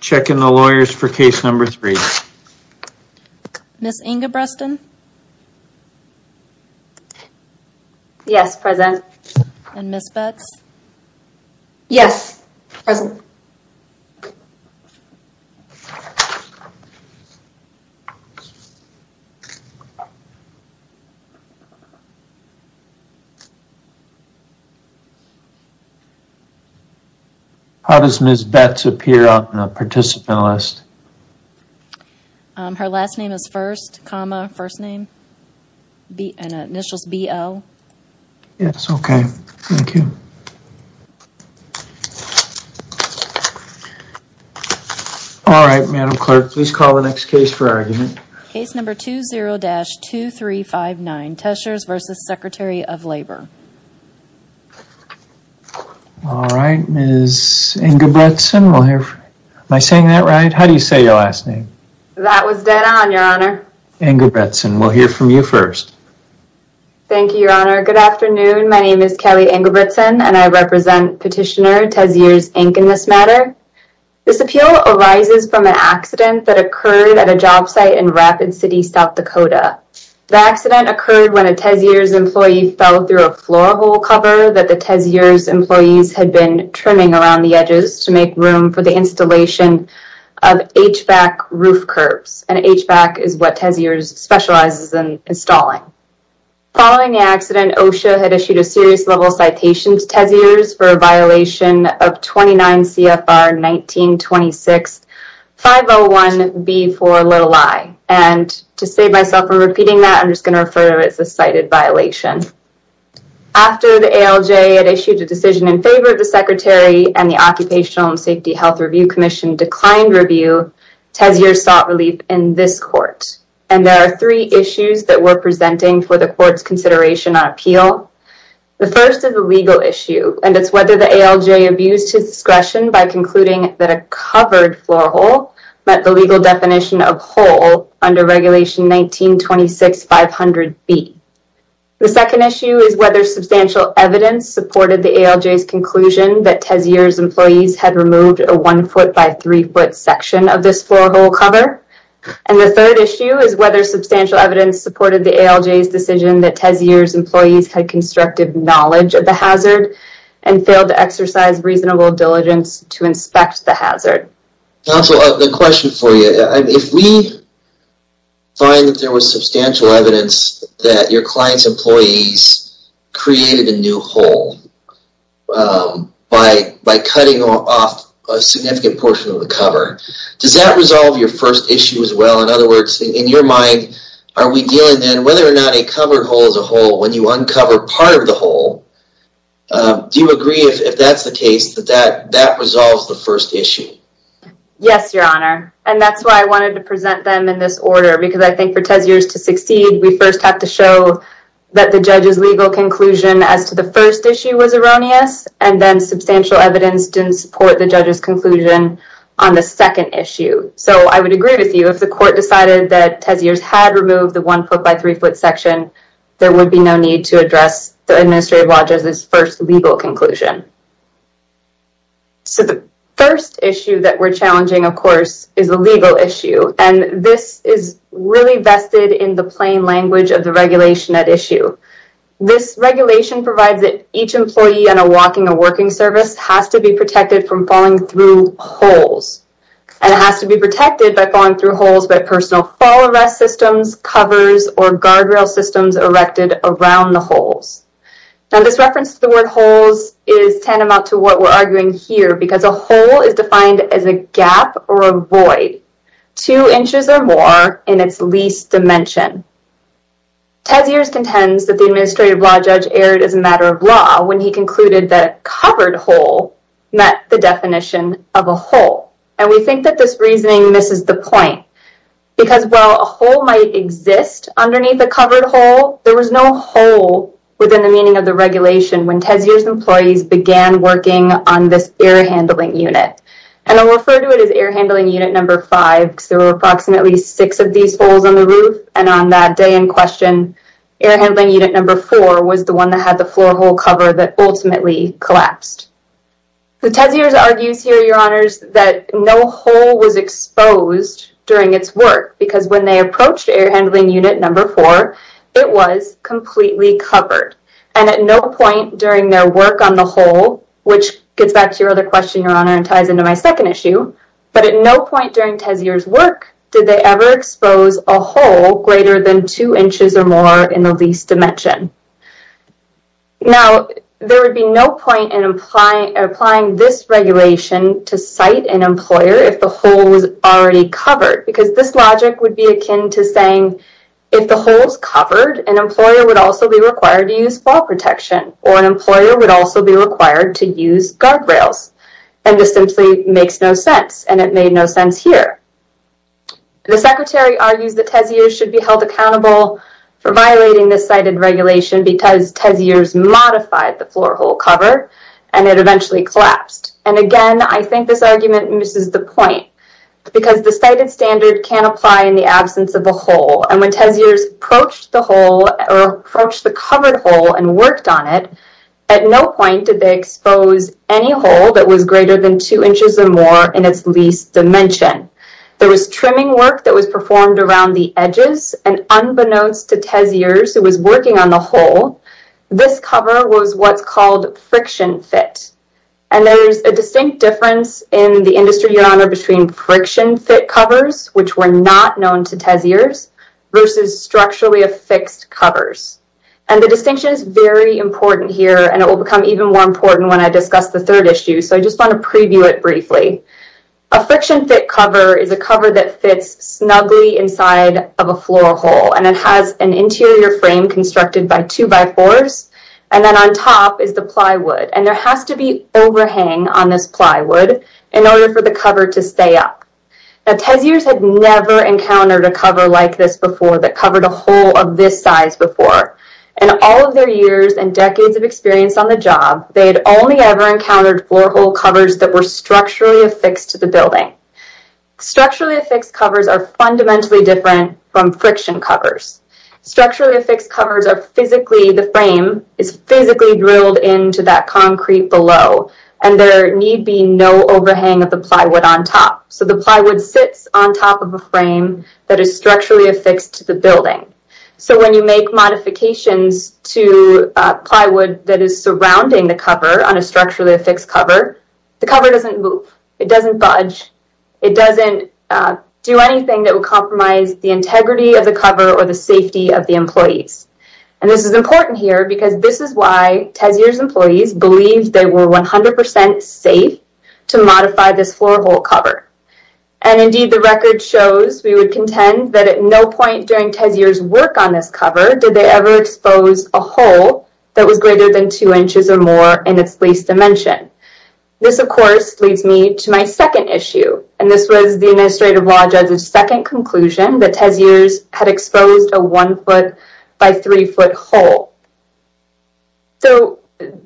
Checking the lawyers for case number three. Ms. Ingebrigtsen? Yes, present. And Ms. Betts? Yes, present. How does Ms. Betts appear on a participant list? Her last name is first, comma, first name, and initials B-O. Yes, okay, thank you. All right, Madam Clerk, please call the next case for argument. Case number 20-2359, Tessier's v. Secretary of Labor. All right, Ms. Ingebrigtsen, we'll hear from... Am I saying that right? How do you say your last name? That was dead on, Your Honor. Ingebrigtsen, we'll hear from you first. Thank you, Your Honor. Good afternoon, my name is Kelly Ingebrigtsen, and I represent petitioner Tessier's, Inc., in this matter. This appeal arises from an accident that occurred at a job site in Rapid City, South Dakota. The accident occurred when a Tessier's employee fell through a floor hole cover that the Tessier's employees had been trimming around the edges to make room for the installation of HVAC roof curbs. And HVAC is what Tessier's specializes in installing. Following the accident, OSHA had issued a serious level citation to Tessier's for a violation of 29 C.F.R. 1926-501-B4-i. And to save myself from repeating that, I'm just going to refer to it as a cited violation. After the ALJ had issued a decision in favor of the Secretary and the Occupational and Safety Health Review Commission declined review, Tessier's sought relief in this court. And there are three issues that we're presenting for the court's consideration on appeal. The first is a legal issue. And it's whether the ALJ abused his discretion by concluding that a covered floor hole met the legal definition of hole under regulation 1926-500-B. The second issue is whether substantial evidence supported the ALJ's conclusion that Tessier's employees had removed a one foot by three foot section of this floor hole cover. And the third issue is whether substantial evidence supported the ALJ's decision that Tessier's employees had constructive knowledge of the hazard and failed to exercise reasonable diligence to inspect the hazard. Counsel, the question for you, if we find that there was substantial evidence that your client's employees created a new hole by cutting off a significant portion of the cover, does that resolve your first issue as well? In other words, in your mind, are we dealing then whether or not a covered hole is a hole when you uncover part of the hole? Do you agree if that's the case, that that resolves the first issue? Yes, your honor. And that's why I wanted to present them in this order. Because I think for Tessier's to succeed, we first have to show that the judge's legal conclusion as to the first issue was erroneous. And then substantial evidence didn't support the judge's conclusion on the second issue. So I would agree with you if the court decided that Tessier's had removed the one foot by three foot section, there would be no need to address the administrative law judge's first legal conclusion. So the first issue that we're challenging, of course, is a legal issue. And this is really vested in the plain language of the regulation at issue. This regulation provides that each employee on a walking or working service has to be protected from falling through holes. And it has to be protected by falling through holes but personal fall arrest systems, covers, or guardrail systems erected around the holes. Now this reference to the word holes is tantamount to what we're arguing here because a hole is defined as a gap or a void two inches or more in its least dimension. Tessier's contends that the administrative law judge erred as a matter of law when he concluded that a covered hole met the definition of a hole. And we think that this reasoning misses the point. Because while a hole might exist underneath a covered hole, there was no hole within the meaning of the regulation when Tessier's employees began working on this air handling unit. And I'll refer to it as air handling unit number five because there were approximately six of these holes on the roof. And on that day in question, air handling unit number four was the one that had the floor hole cover that ultimately collapsed. The Tessier's argues here, your honors, that no hole was exposed during its work because when they approached air handling unit number four, it was completely covered. And at no point during their work on the hole, which gets back to your other question, your honor, and ties into my second issue, but at no point during Tessier's work, did they ever expose a hole greater than two inches or more in the least dimension. Now, there would be no point in applying this regulation to cite an employer if the hole was already covered because this logic would be akin to saying, if the hole's covered, an employer would also be required to use fall protection or an employer would also be required to use guardrails. And this simply makes no sense. And it made no sense here. The secretary argues that Tessier's should be held accountable for violating this cited regulation because Tessier's modified the floor hole cover and it eventually collapsed. And again, I think this argument misses the point because the cited standard can apply in the absence of a hole. And when Tessier's approached the hole or approached the covered hole and worked on it, at no point did they expose any hole that was greater than two inches or more in its least dimension. There was trimming work that was performed around the edges and unbeknownst to Tessier's who was working on the hole, this cover was what's called friction fit. And there's a distinct difference in the industry, Your Honor, between friction fit covers, which were not known to Tessier's versus structurally affixed covers. And the distinction is very important here and it will become even more important when I discuss the third issue. So I just want to preview it briefly. A friction fit cover is a cover that fits snugly inside of a floor hole and it has an interior frame constructed by two by fours. And then on top is the plywood and there has to be overhang on this plywood in order for the cover to stay up. Now, Tessier's had never encountered a cover like this before that covered a hole of this size before. And all of their years and decades of experience on the job, that were structurally affixed to the building. Structurally affixed covers are fundamentally different from friction covers. Structurally affixed covers are physically, the frame is physically drilled into that concrete below and there need be no overhang of the plywood on top. So the plywood sits on top of a frame that is structurally affixed to the building. So when you make modifications to plywood that is surrounding the cover on a structurally affixed cover, the cover doesn't move. It doesn't budge. It doesn't do anything that would compromise the integrity of the cover or the safety of the employees. And this is important here because this is why Tessier's employees believed they were 100% safe to modify this floor hole cover. And indeed the record shows, we would contend that at no point during Tessier's work on this cover, did they ever expose a hole that was greater than two inches or more in its least dimension. This of course leads me to my second issue. And this was the Administrative Law Judge's second conclusion that Tessier's had exposed a one foot by three foot hole. So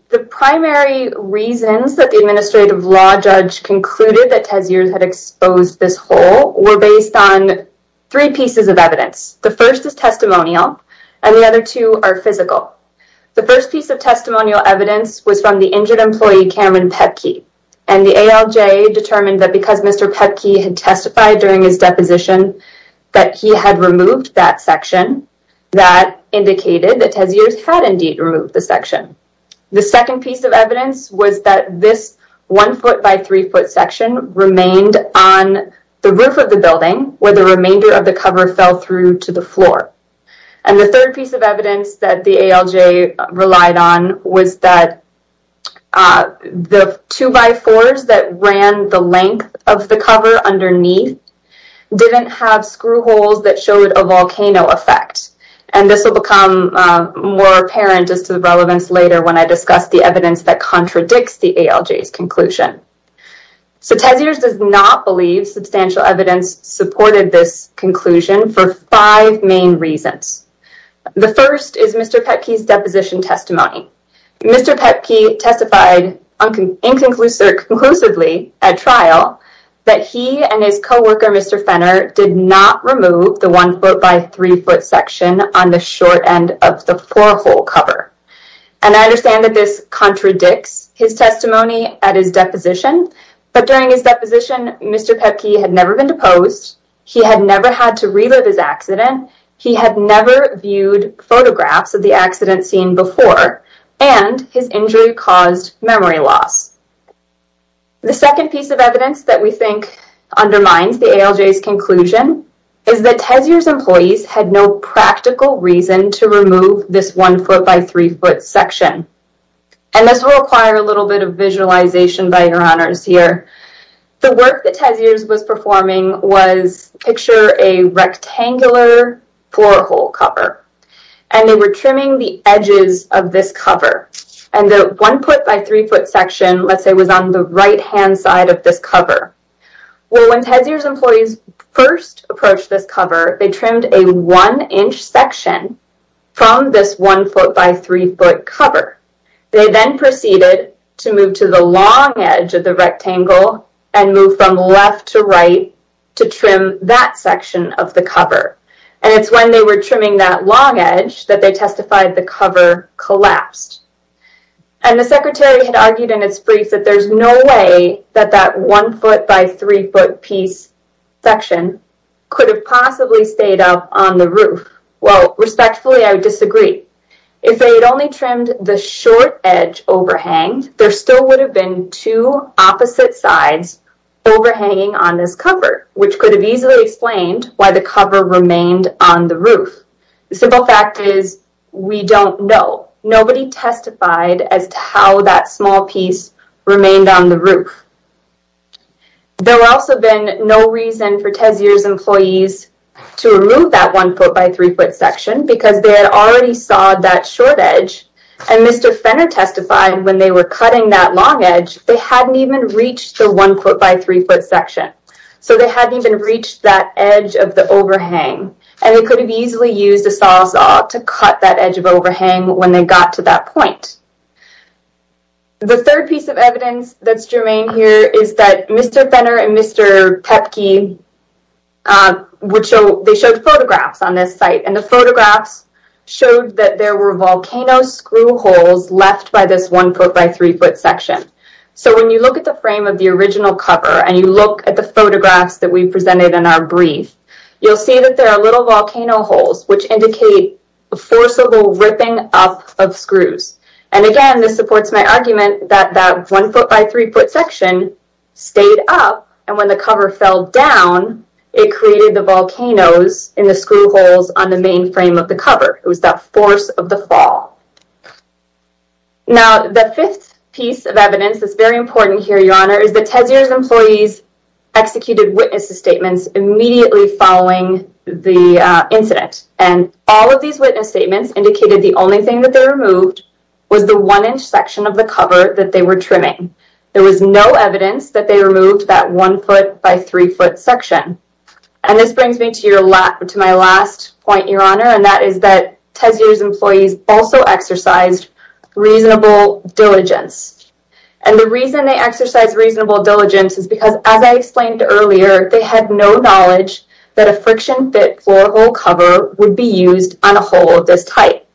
the primary reasons that the Administrative Law Judge concluded that Tessier's had exposed this hole were based on three pieces of evidence. The first is testimonial and the other two are physical. The first piece of testimonial evidence was from the injured employee, Cameron Pepke. And the ALJ determined that because Mr. Pepke had testified during his deposition that he had removed that section, that indicated that Tessier's had indeed removed the section. The second piece of evidence was that this one foot by three foot section remained on the roof of the building where the remainder of the cover fell through to the floor. And the third piece of evidence that the ALJ relied on was that the two by fours that ran the length of the cover underneath didn't have screw holes that showed a volcano effect. And this will become more apparent as to the relevance later when I discuss the evidence that contradicts the ALJ's conclusion. So Tessier's does not believe substantial evidence supported this conclusion for five main reasons. The first is Mr. Pepke's deposition testimony. Mr. Pepke testified inconclusively at trial that he and his coworker, Mr. Fenner, did not remove the one foot by three foot section on the short end of the four hole cover. And I understand that this contradicts his testimony at his deposition. But during his deposition, Mr. Pepke had never been deposed. He had never had to relive his accident. He had never viewed photographs of the accident scene before. And his injury caused memory loss. The second piece of evidence that we think undermines the ALJ's conclusion is that Tessier's employees had no practical reason to remove this one foot by three foot section. And this will require a little bit of visualization by your honors here. The work that Tessier's was performing was picture a rectangular four hole cover. And they were trimming the edges of this cover. And the one foot by three foot section, let's say was on the right hand side of this cover. Well, when Tessier's employees first approached this cover, they trimmed a one inch section from this one foot by three foot cover. They then proceeded to move to the long edge of the rectangle and move from left to right to trim that section of the cover. And it's when they were trimming that long edge that they testified the cover collapsed. And the secretary had argued in its brief that there's no way that that one foot by three foot piece section could have possibly stayed up on the roof. Well, respectfully, I would disagree. If they had only trimmed the short edge overhang, there still would have been two opposite sides overhanging on this cover, which could have easily explained why the cover remained on the roof. The simple fact is, we don't know. Nobody testified as to how that small piece remained on the roof. There were also been no reason for Tessier's employees to remove that one foot by three foot section because they had already saw that short edge. And Mr. Fenner testified when they were cutting that long edge, they hadn't even reached the one foot by three foot section. So they hadn't even reached that edge of the overhang. And they could have easily used a saw to cut that edge of overhang when they got to that point. The third piece of evidence that's germane here is that Mr. Fenner and Mr. Pepke, they showed photographs on this site. And the photographs showed that there were volcano screw holes left by this one foot by three foot section. So when you look at the frame of the original cover and you look at the photographs that we presented in our brief, you'll see that there are little volcano holes which indicate a forcible ripping up of screws. And again, this supports my argument that that one foot by three foot section stayed up. And when the cover fell down, it created the volcanoes in the screw holes on the main frame of the cover. It was that force of the fall. Now, the fifth piece of evidence that's very important here, Your Honor, is that Tessier's employees executed witness statements immediately following the incident. And all of these witness statements indicated the only thing that they removed was the one inch section of the cover that they were trimming. There was no evidence that they removed that one foot by three foot section. And this brings me to my last point, Your Honor, and that is that Tessier's employees also exercised reasonable diligence. And the reason they exercised reasonable diligence is because, as I explained earlier, they had no knowledge that a friction-fit floor hole cover would be used on a hole of this type.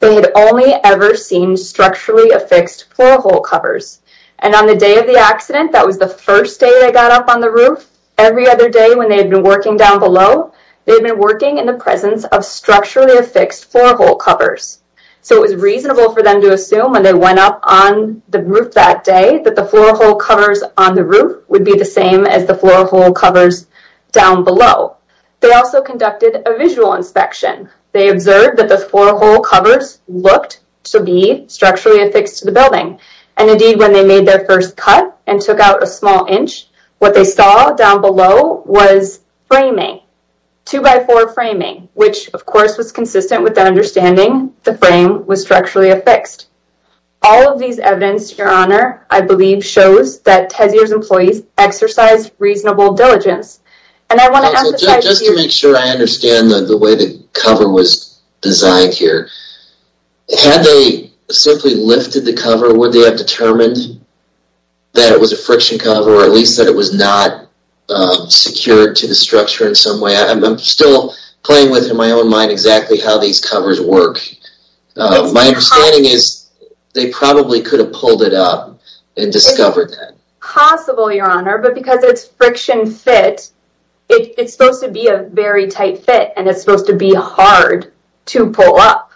They had only ever seen structurally affixed floor hole covers. And on the day of the accident, that was the first day they got up on the roof. Every other day when they had been working down below, they had been working in the presence of structurally affixed floor hole covers. So it was reasonable for them to assume when they went up on the roof that day that the floor hole covers on the roof would be the same as the floor hole covers down below. They also conducted a visual inspection. They observed that the floor hole covers looked to be structurally affixed to the building. And indeed, when they made their first cut and took out a small inch, what they saw down below was framing, two-by-four framing, which, of course, was consistent with their understanding the frame was structurally affixed. All of these evidence, Your Honor, I believe shows that Tezzier's employees exercised reasonable diligence. And I want to emphasize... Just to make sure I understand the way the cover was designed here. Had they simply lifted the cover, would they have determined that it was a friction cover, or at least that it was not secured to the structure in some way? I'm still playing with, in my own mind, exactly how these covers work. My understanding is they probably could have pulled it up and discovered that. Possible, Your Honor, but because it's friction fit, it's supposed to be a very tight fit, and it's supposed to be hard to pull up.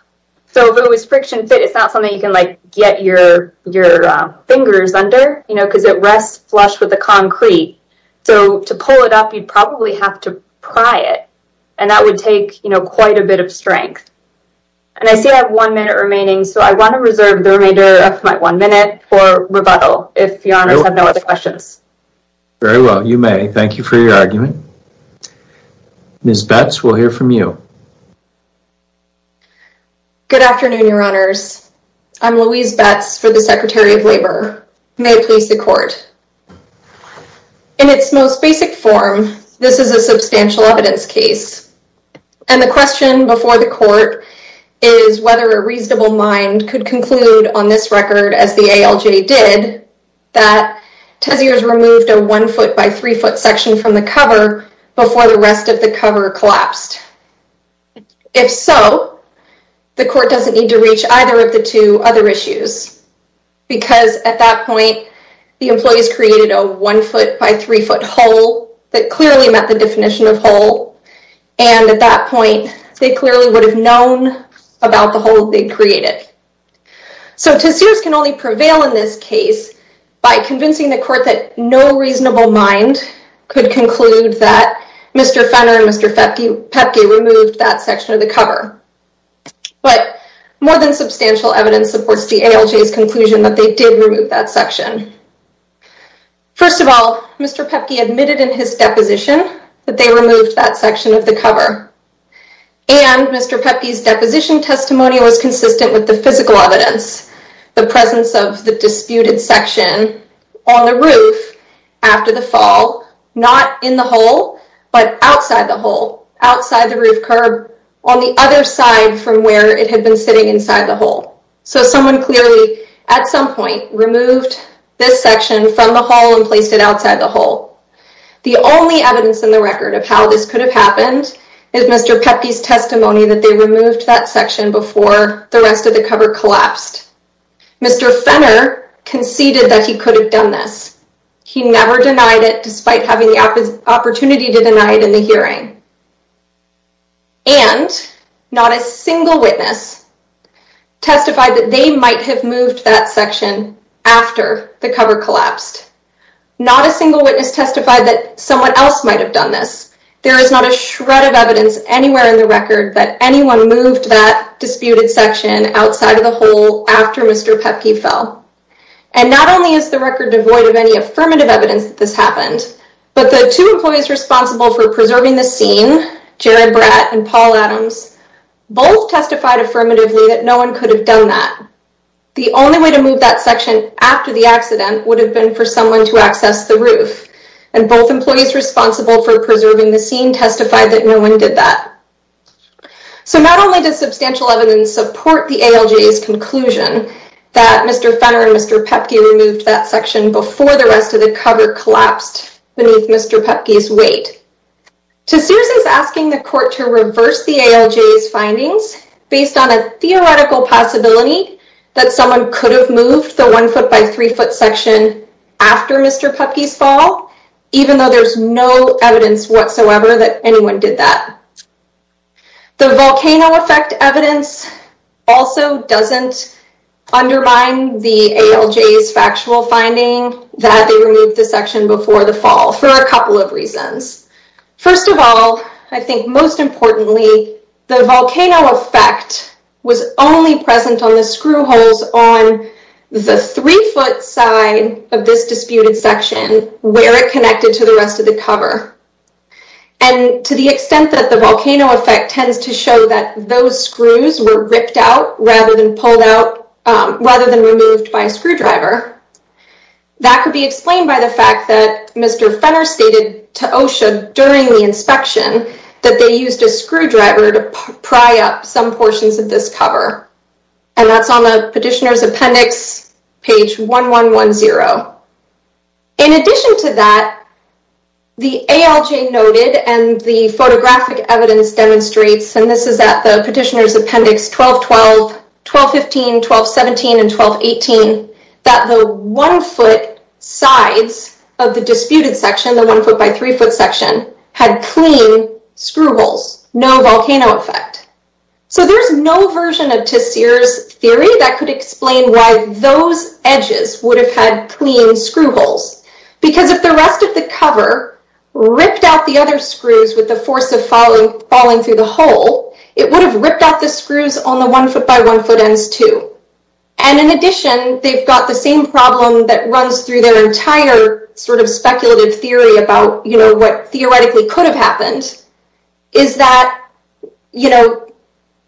So if it was friction fit, it's not something you can get your fingers under, because it rests flush with the concrete. So to pull it up, you'd probably have to pry it. And that would take quite a bit of strength. And I see I have one minute remaining, so I want to reserve the remainder of my one minute for rebuttal, if Your Honors have no other questions. Very well, you may. Thank you for your argument. Ms. Betz, we'll hear from you. Good afternoon, Your Honors. I'm Louise Betz for the Secretary of Labor. May it please the Court. In its most basic form, this is a substantial evidence case. And the question before the Court is whether a reasonable mind could conclude on this record, as the ALJ did, that Teziers removed a one foot by three foot section from the cover before the rest of the cover collapsed. If so, the Court doesn't need to reach either of the two other issues, because at that point, the employees created a one foot by three foot hole that clearly met the definition of hole. And at that point, they clearly would have known about the hole they created. So Teziers can only prevail in this case by convincing the Court that no reasonable mind could conclude that Mr. Fenner and Mr. Pepke removed that section of the cover. But more than substantial evidence supports the ALJ's conclusion that they did remove that section. First of all, Mr. Pepke admitted in his deposition that they removed that section of the cover. And Mr. Pepke's deposition testimony was consistent with the physical evidence, the presence of the disputed section on the roof after the fall, not in the hole, but outside the hole, outside the roof curb, on the other side from where it had been sitting inside the hole. So someone clearly, at some point, removed this section from the hole and placed it outside the hole. The only evidence in the record of how this could have happened is Mr. Pepke's testimony that they removed that section before the rest of the cover collapsed. Mr. Fenner conceded that he could have done this. He never denied it, despite having the opportunity to deny it in the hearing. And not a single witness testified that they might have moved that section after the cover collapsed. Not a single witness testified that someone else might have done this. There is not a shred of evidence anywhere in the record that anyone moved that disputed section outside of the hole after Mr. Pepke fell. And not only is the record devoid of any affirmative evidence that this happened, but the two employees responsible for preserving the scene, Jared Bratt and Paul Adams, both testified affirmatively that no one could have done that. The only way to move that section after the accident would have been for someone to access the roof. And both employees responsible for preserving the scene testified that no one did that. So not only does substantial evidence support the ALJ's conclusion that Mr. Fenner and Mr. Pepke removed that section before the rest of the cover collapsed beneath Mr. Pepke's weight, Tassuz is asking the court to reverse the ALJ's findings based on a theoretical possibility that someone could have moved the one foot by three foot section after Mr. Pepke's fall, even though there's no evidence whatsoever that anyone did that. The volcano effect evidence also doesn't undermine the ALJ's factual finding that they removed the section before the fall for a couple of reasons. First of all, I think most importantly, the volcano effect was only present on the screw holes on the three foot side of this disputed section where it connected to the rest of the cover. And to the extent that the volcano effect tends to show that those screws were ripped out rather than pulled out, rather than removed by a screwdriver, that could be explained by the fact that Mr. Fenner stated to OSHA during the inspection that they used a screwdriver to pry up some portions of this cover. And that's on the petitioner's appendix, page 1110. In addition to that, the ALJ noted and the photographic evidence demonstrates, and this is at the petitioner's appendix 1212, 1215, 1217, and 1218, that the one foot sides of the disputed section, the one foot by three foot section, had clean screw holes. No volcano effect. So there's no version of Tessier's theory that could explain why those edges would have had clean screw holes. Because if the rest of the cover ripped out the other screws with the force of falling through the hole, it would have ripped out the screws on the one foot by one foot ends too. And in addition, they've got the same problem that runs through their entire sort of speculative theory about what theoretically could have happened, is that, you know,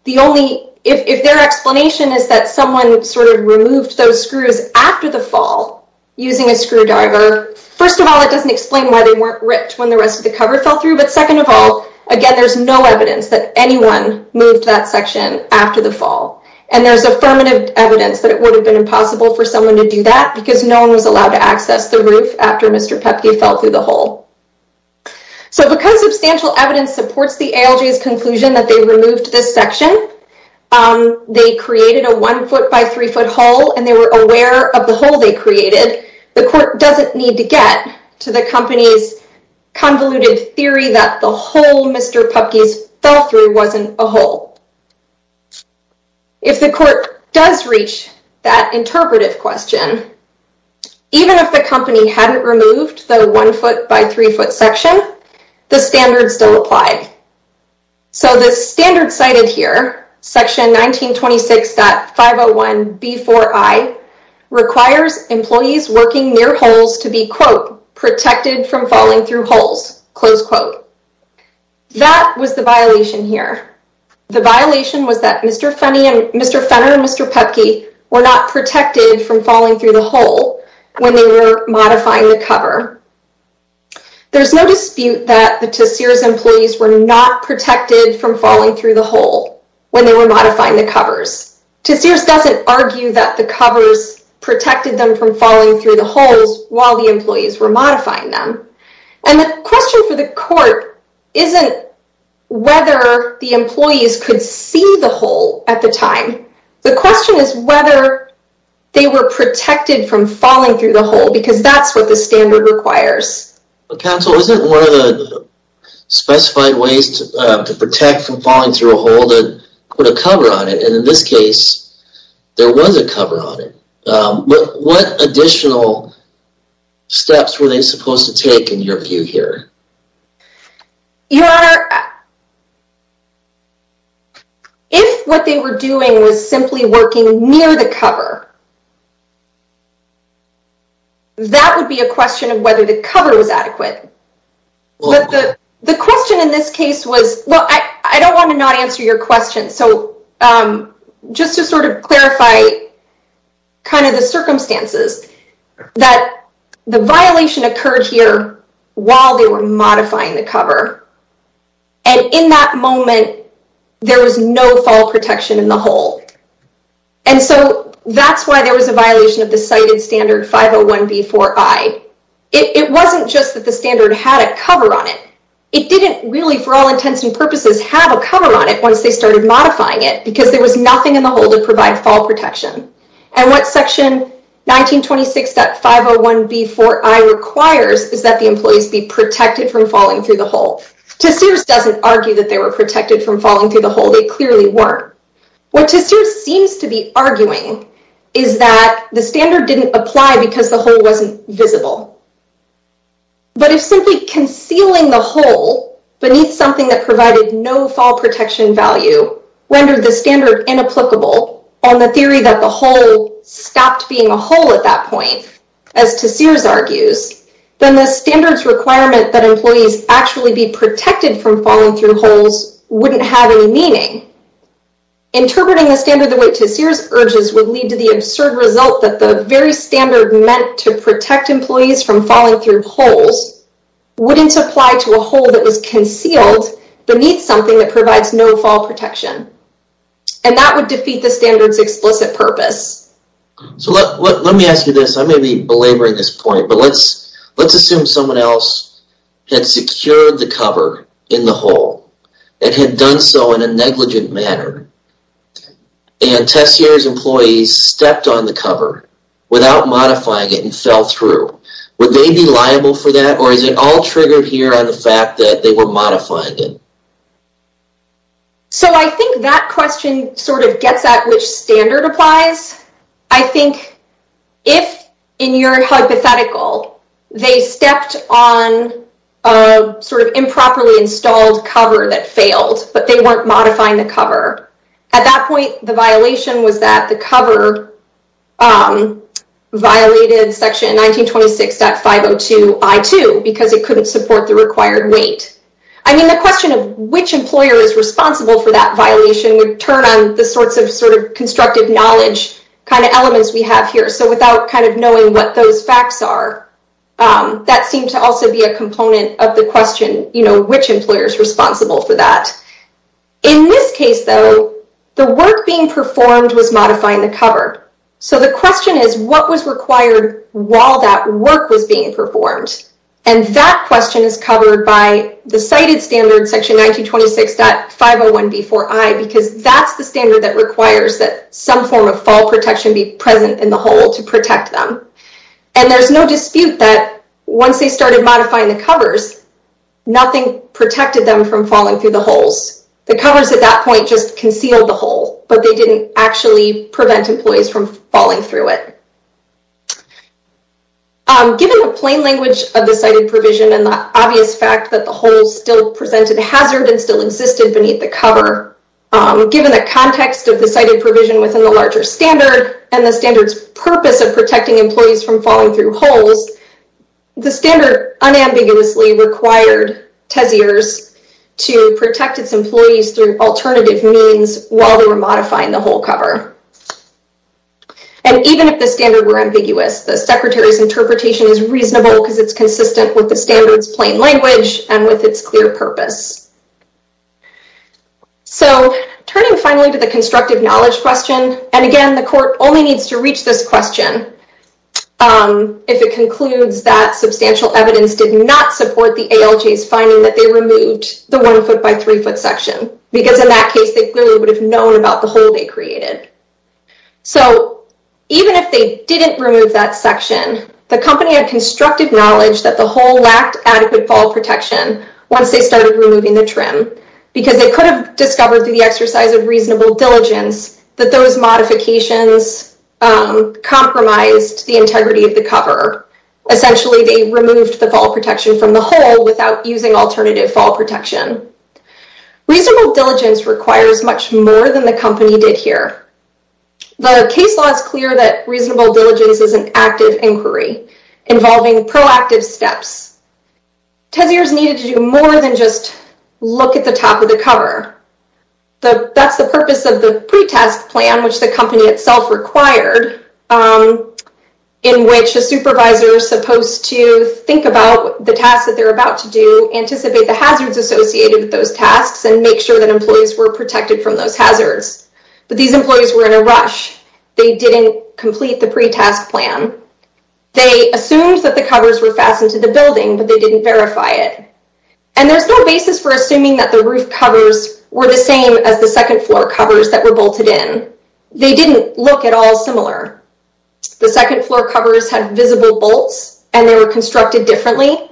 the only, if their explanation is that someone sort of removed those screws after the fall using a screwdriver, first of all, it doesn't explain why they weren't ripped when the rest of the cover fell through. But second of all, again, there's no evidence that anyone moved that section after the fall. And there's affirmative evidence that it would have been impossible for someone to do that because no one was allowed to access the roof after Mr. Pepke fell through the hole. So because substantial evidence supports the ALJ's conclusion that they removed this section, they created a one foot by three foot hole and they were aware of the hole they created. The court doesn't need to get to the company's convoluted theory that the hole Mr. Pepke's fell through wasn't a hole. If the court does reach that interpretive question, even if the company hadn't removed the one foot by three foot section, the standard still applied. So the standard cited here, section 1926.501B4I requires employees working near holes to be, quote, protected from falling through holes, close quote. That was the violation here. The violation was that were not protected from falling through the hole when they were modifying the cover. There's no dispute that the Tessier's employees were not protected from falling through the hole when they were modifying the covers. Tessier's doesn't argue that the covers protected them from falling through the holes while the employees were modifying them. And the question for the court isn't whether the employees could see the hole at the time. The question is whether they were protected from falling through the hole, because that's what the standard requires. Counsel, isn't one of the specified ways to protect from falling through a hole that put a cover on it? And in this case, there was a cover on it. What additional steps were they supposed to take in your view here? Your Honor, if what they were doing was simply working near the cover, that would be a question of whether the cover was adequate. But the question in this case was, well, I don't want to not answer your question. So just to sort of clarify kind of the circumstances that the violation occurred here while they were modifying the cover. there was no fall protection in the hole. And so that's a question why there was a violation of the cited standard 501B4I. It wasn't just that the standard had a cover on it. It didn't really, for all intents and purposes, have a cover on it once they started modifying it because there was nothing in the hole to provide fall protection. And what section 1926.501B4I requires is that the employees be protected from falling through the hole. Tessiers doesn't argue that they were protected from falling through the hole. They clearly weren't. What Tessiers seems to be arguing is that the standard didn't apply because the hole wasn't visible. But if simply concealing the hole beneath something that provided no fall protection value rendered the standard inapplicable on the theory that the hole stopped being a hole at that point, as Tessiers argues, then the standard's requirement that employees actually be protected from falling through holes wouldn't have any meaning. Interpreting the standard the way Tessiers urges would lead to the absurd result that the very standard meant to protect employees from falling through holes wouldn't apply to a hole that was concealed beneath something that provides no fall protection. And that would defeat the standard's explicit purpose. So let me ask you this. I may be belaboring this point, but let's assume someone else had secured the cover in the hole and had done so in a negligent manner. And Tessiers' employees stepped on the cover without modifying it and fell through. Would they be liable for that? Or is it all triggered here on the fact that they were modifying it? So I think that question sort of gets at which standard applies. I think if, in your hypothetical, they stepped on a sort of improperly installed cover that failed, but they weren't modifying the cover, at that point, the violation was that the cover violated section 1926.502.I2 because it couldn't support the required weight. I mean, the question of which employer is responsible for that violation would turn on the sorts of sort of constructive knowledge kind of elements we have here. So without kind of knowing what those facts are, that seemed to also be a component of the question, you know, which employer is responsible for that. In this case, though, the work being performed was modifying the cover. So the question is, what was required while that work was being performed? And that question is covered by the cited standard section 1926.501.B4.I because that's the standard that requires that some form of fall protection be present in the hole to protect them. And there's no dispute that once they started modifying the covers, nothing protected them from falling through the holes. The covers at that point just concealed the hole, but they didn't actually prevent employees from falling through it. Given the plain language of the cited provision and the obvious fact that the hole still presented hazard and still existed beneath the cover, given the context of the cited provision within the larger standard and the standard's purpose of protecting employees from falling through holes, the standard unambiguously required TESIers to protect its employees through alternative means while they were modifying the hole cover. And even if the standard were ambiguous, the secretary's interpretation is reasonable because it's consistent with the standard's plain language and with its clear purpose. So turning finally to the constructive knowledge question, and again, the court only needs to reach this question if it concludes that substantial evidence did not support the ALJs finding that they removed the one foot by three foot section because in that case, they clearly would have known about the hole they created. So even if they didn't remove that section, the company had constructive knowledge that the hole lacked adequate fall protection once they started removing the trim because they could have discovered through the exercise of reasonable diligence that those modifications compromised the integrity of the cover. Essentially, they removed fall protection from the hole without using alternative fall protection. Reasonable diligence requires much more than the company did here. The case law is clear that reasonable diligence is an active inquiry involving proactive steps. TESIers needed to do more than just look at the top of the cover. That's the purpose of the pretest plan, which the company itself required, in which a supervisor supposed to think about the tasks that they're about to do, anticipate the hazards associated with those tasks, and make sure that employees were protected from those hazards. But these employees were in a rush. They didn't complete the pretest plan. They assumed that the covers were fastened to the building, but they didn't verify it. And there's no basis for assuming that the roof covers were the same as the second floor covers that were bolted in. They didn't look at all similar. The second floor covers had visible bolts, and they were constructed differently.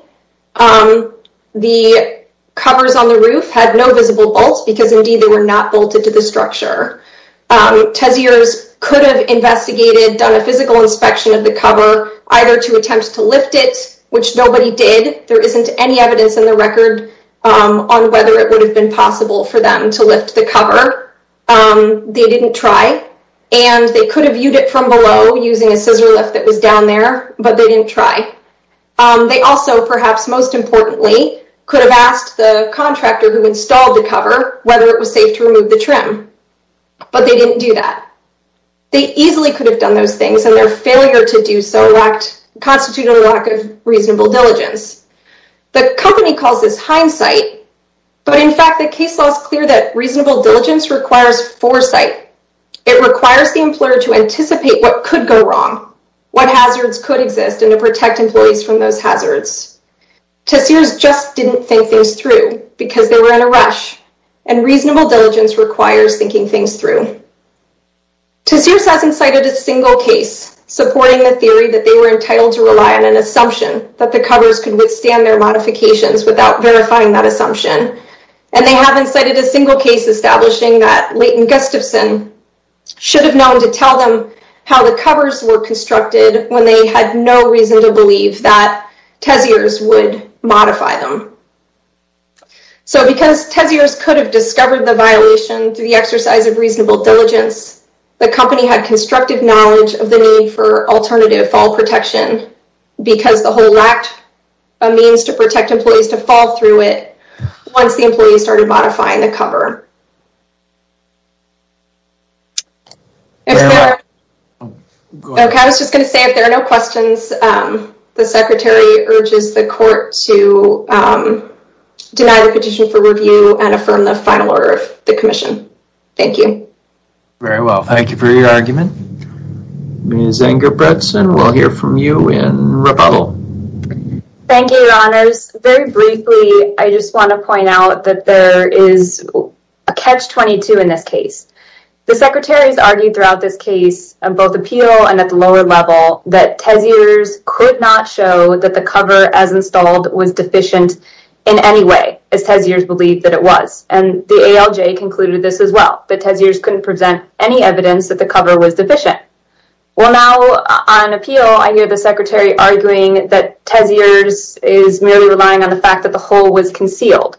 The covers on the roof had no visible bolts because, indeed, they were not bolted to the structure. TESIers could have investigated, done a physical inspection of the cover, either to attempt to lift it, which nobody did. There isn't any evidence in the record on whether it would have been possible for them to lift the cover. They didn't try. And they could have viewed it from below using a scissor lift that was down there, but they didn't try. They also, perhaps most importantly, could have asked the contractor who installed the cover whether it was safe to remove the trim. But they didn't do that. They easily could have done those things, and their failure to do so constituted a lack of reasonable diligence. The company calls this hindsight, but, in fact, the case law is clear that reasonable diligence requires foresight. It requires the employer to anticipate what could go wrong, what hazards could exist, and to protect employees from those hazards. TESIers just didn't think things through because they were in a rush, and reasonable diligence requires thinking things through. TESIers hasn't cited a single case supporting the theory that they were entitled to rely on an assumption that the covers could withstand their modifications without verifying that assumption. And they haven't cited a single case establishing that Leighton Gustafson should have known to tell them how the covers were constructed when they had no reason to believe that TESIers would modify them. So because TESIers could have discovered the violation through the exercise of reasonable diligence, the company had constructive knowledge of the need for alternative fall protection because the whole lacked a means to protect employees to fall through it once the employees started modifying the cover. I was just going to say, if there are no questions, the secretary urges the court to deny the petition for review and affirm the final order of the commission. Thank you. Very well. Thank you for your argument. Ms. Ingerbretson, we'll hear from you in rebuttal. Thank you, your honors. Very briefly, I just want to point out that there is a catch-22 in this case. The secretaries argued throughout this case, both appeal and at the lower level, that TESIers could not show that the cover as installed was deficient in any way as TESIers believed that it was. And the ALJ concluded this as well, that TESIers couldn't present any evidence that the cover was deficient. Well, now on appeal, I hear the secretary arguing that TESIers is merely relying on the fact that the whole was concealed.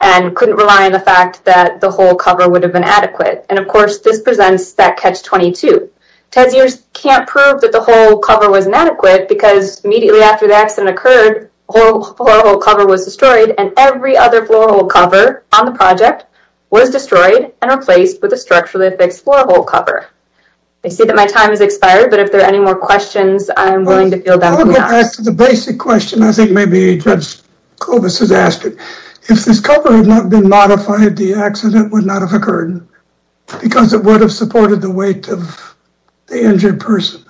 And couldn't rely on the fact that the whole cover would have been adequate. And of course, this presents that catch-22. TESIers can't prove that the whole cover was inadequate because immediately after the accident occurred, the whole cover was destroyed and every other floor cover on the project was destroyed and replaced with a structurally fixed floor hole cover. I see that my time has expired, but if there are any more questions, I'm willing to field that one. I'll go back to the basic question. I think maybe Judge Kovas has asked it. If this cover had not been modified, the accident would not have occurred because it would have supported the weight of the injured person.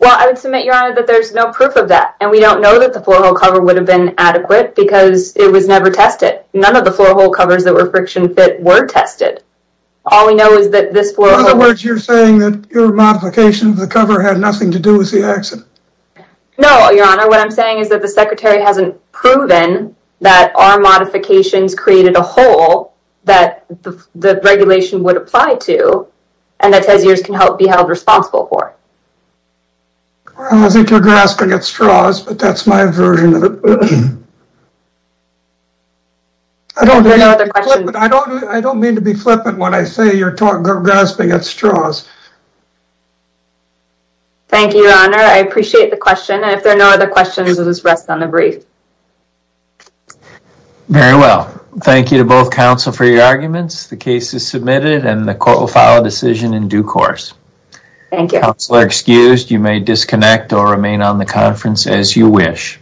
Well, I would submit, Your Honor, that there's no proof of that. And we don't know that the floor hole cover would have been adequate because it was never tested. None of the floor hole covers that were friction fit were tested. All we know is that this floor hole- In other words, you're saying that your modification of the cover had nothing to do with the accident. No, Your Honor. What I'm saying is that the secretary hasn't proven that our modifications created a hole that the regulation would apply to, and that TESIERS can be held responsible for. I don't think you're grasping at straws, but that's my version of it. I don't mean to be flippant when I say you're grasping at straws. Thank you, Your Honor. I appreciate the question. And if there are no other questions, let us rest on the brief. Very well. Thank you to both counsel for your arguments. The case is submitted and the court will file a decision in due course. Thank you. Counselor excused. You may disconnect or remain on the conference as you wish.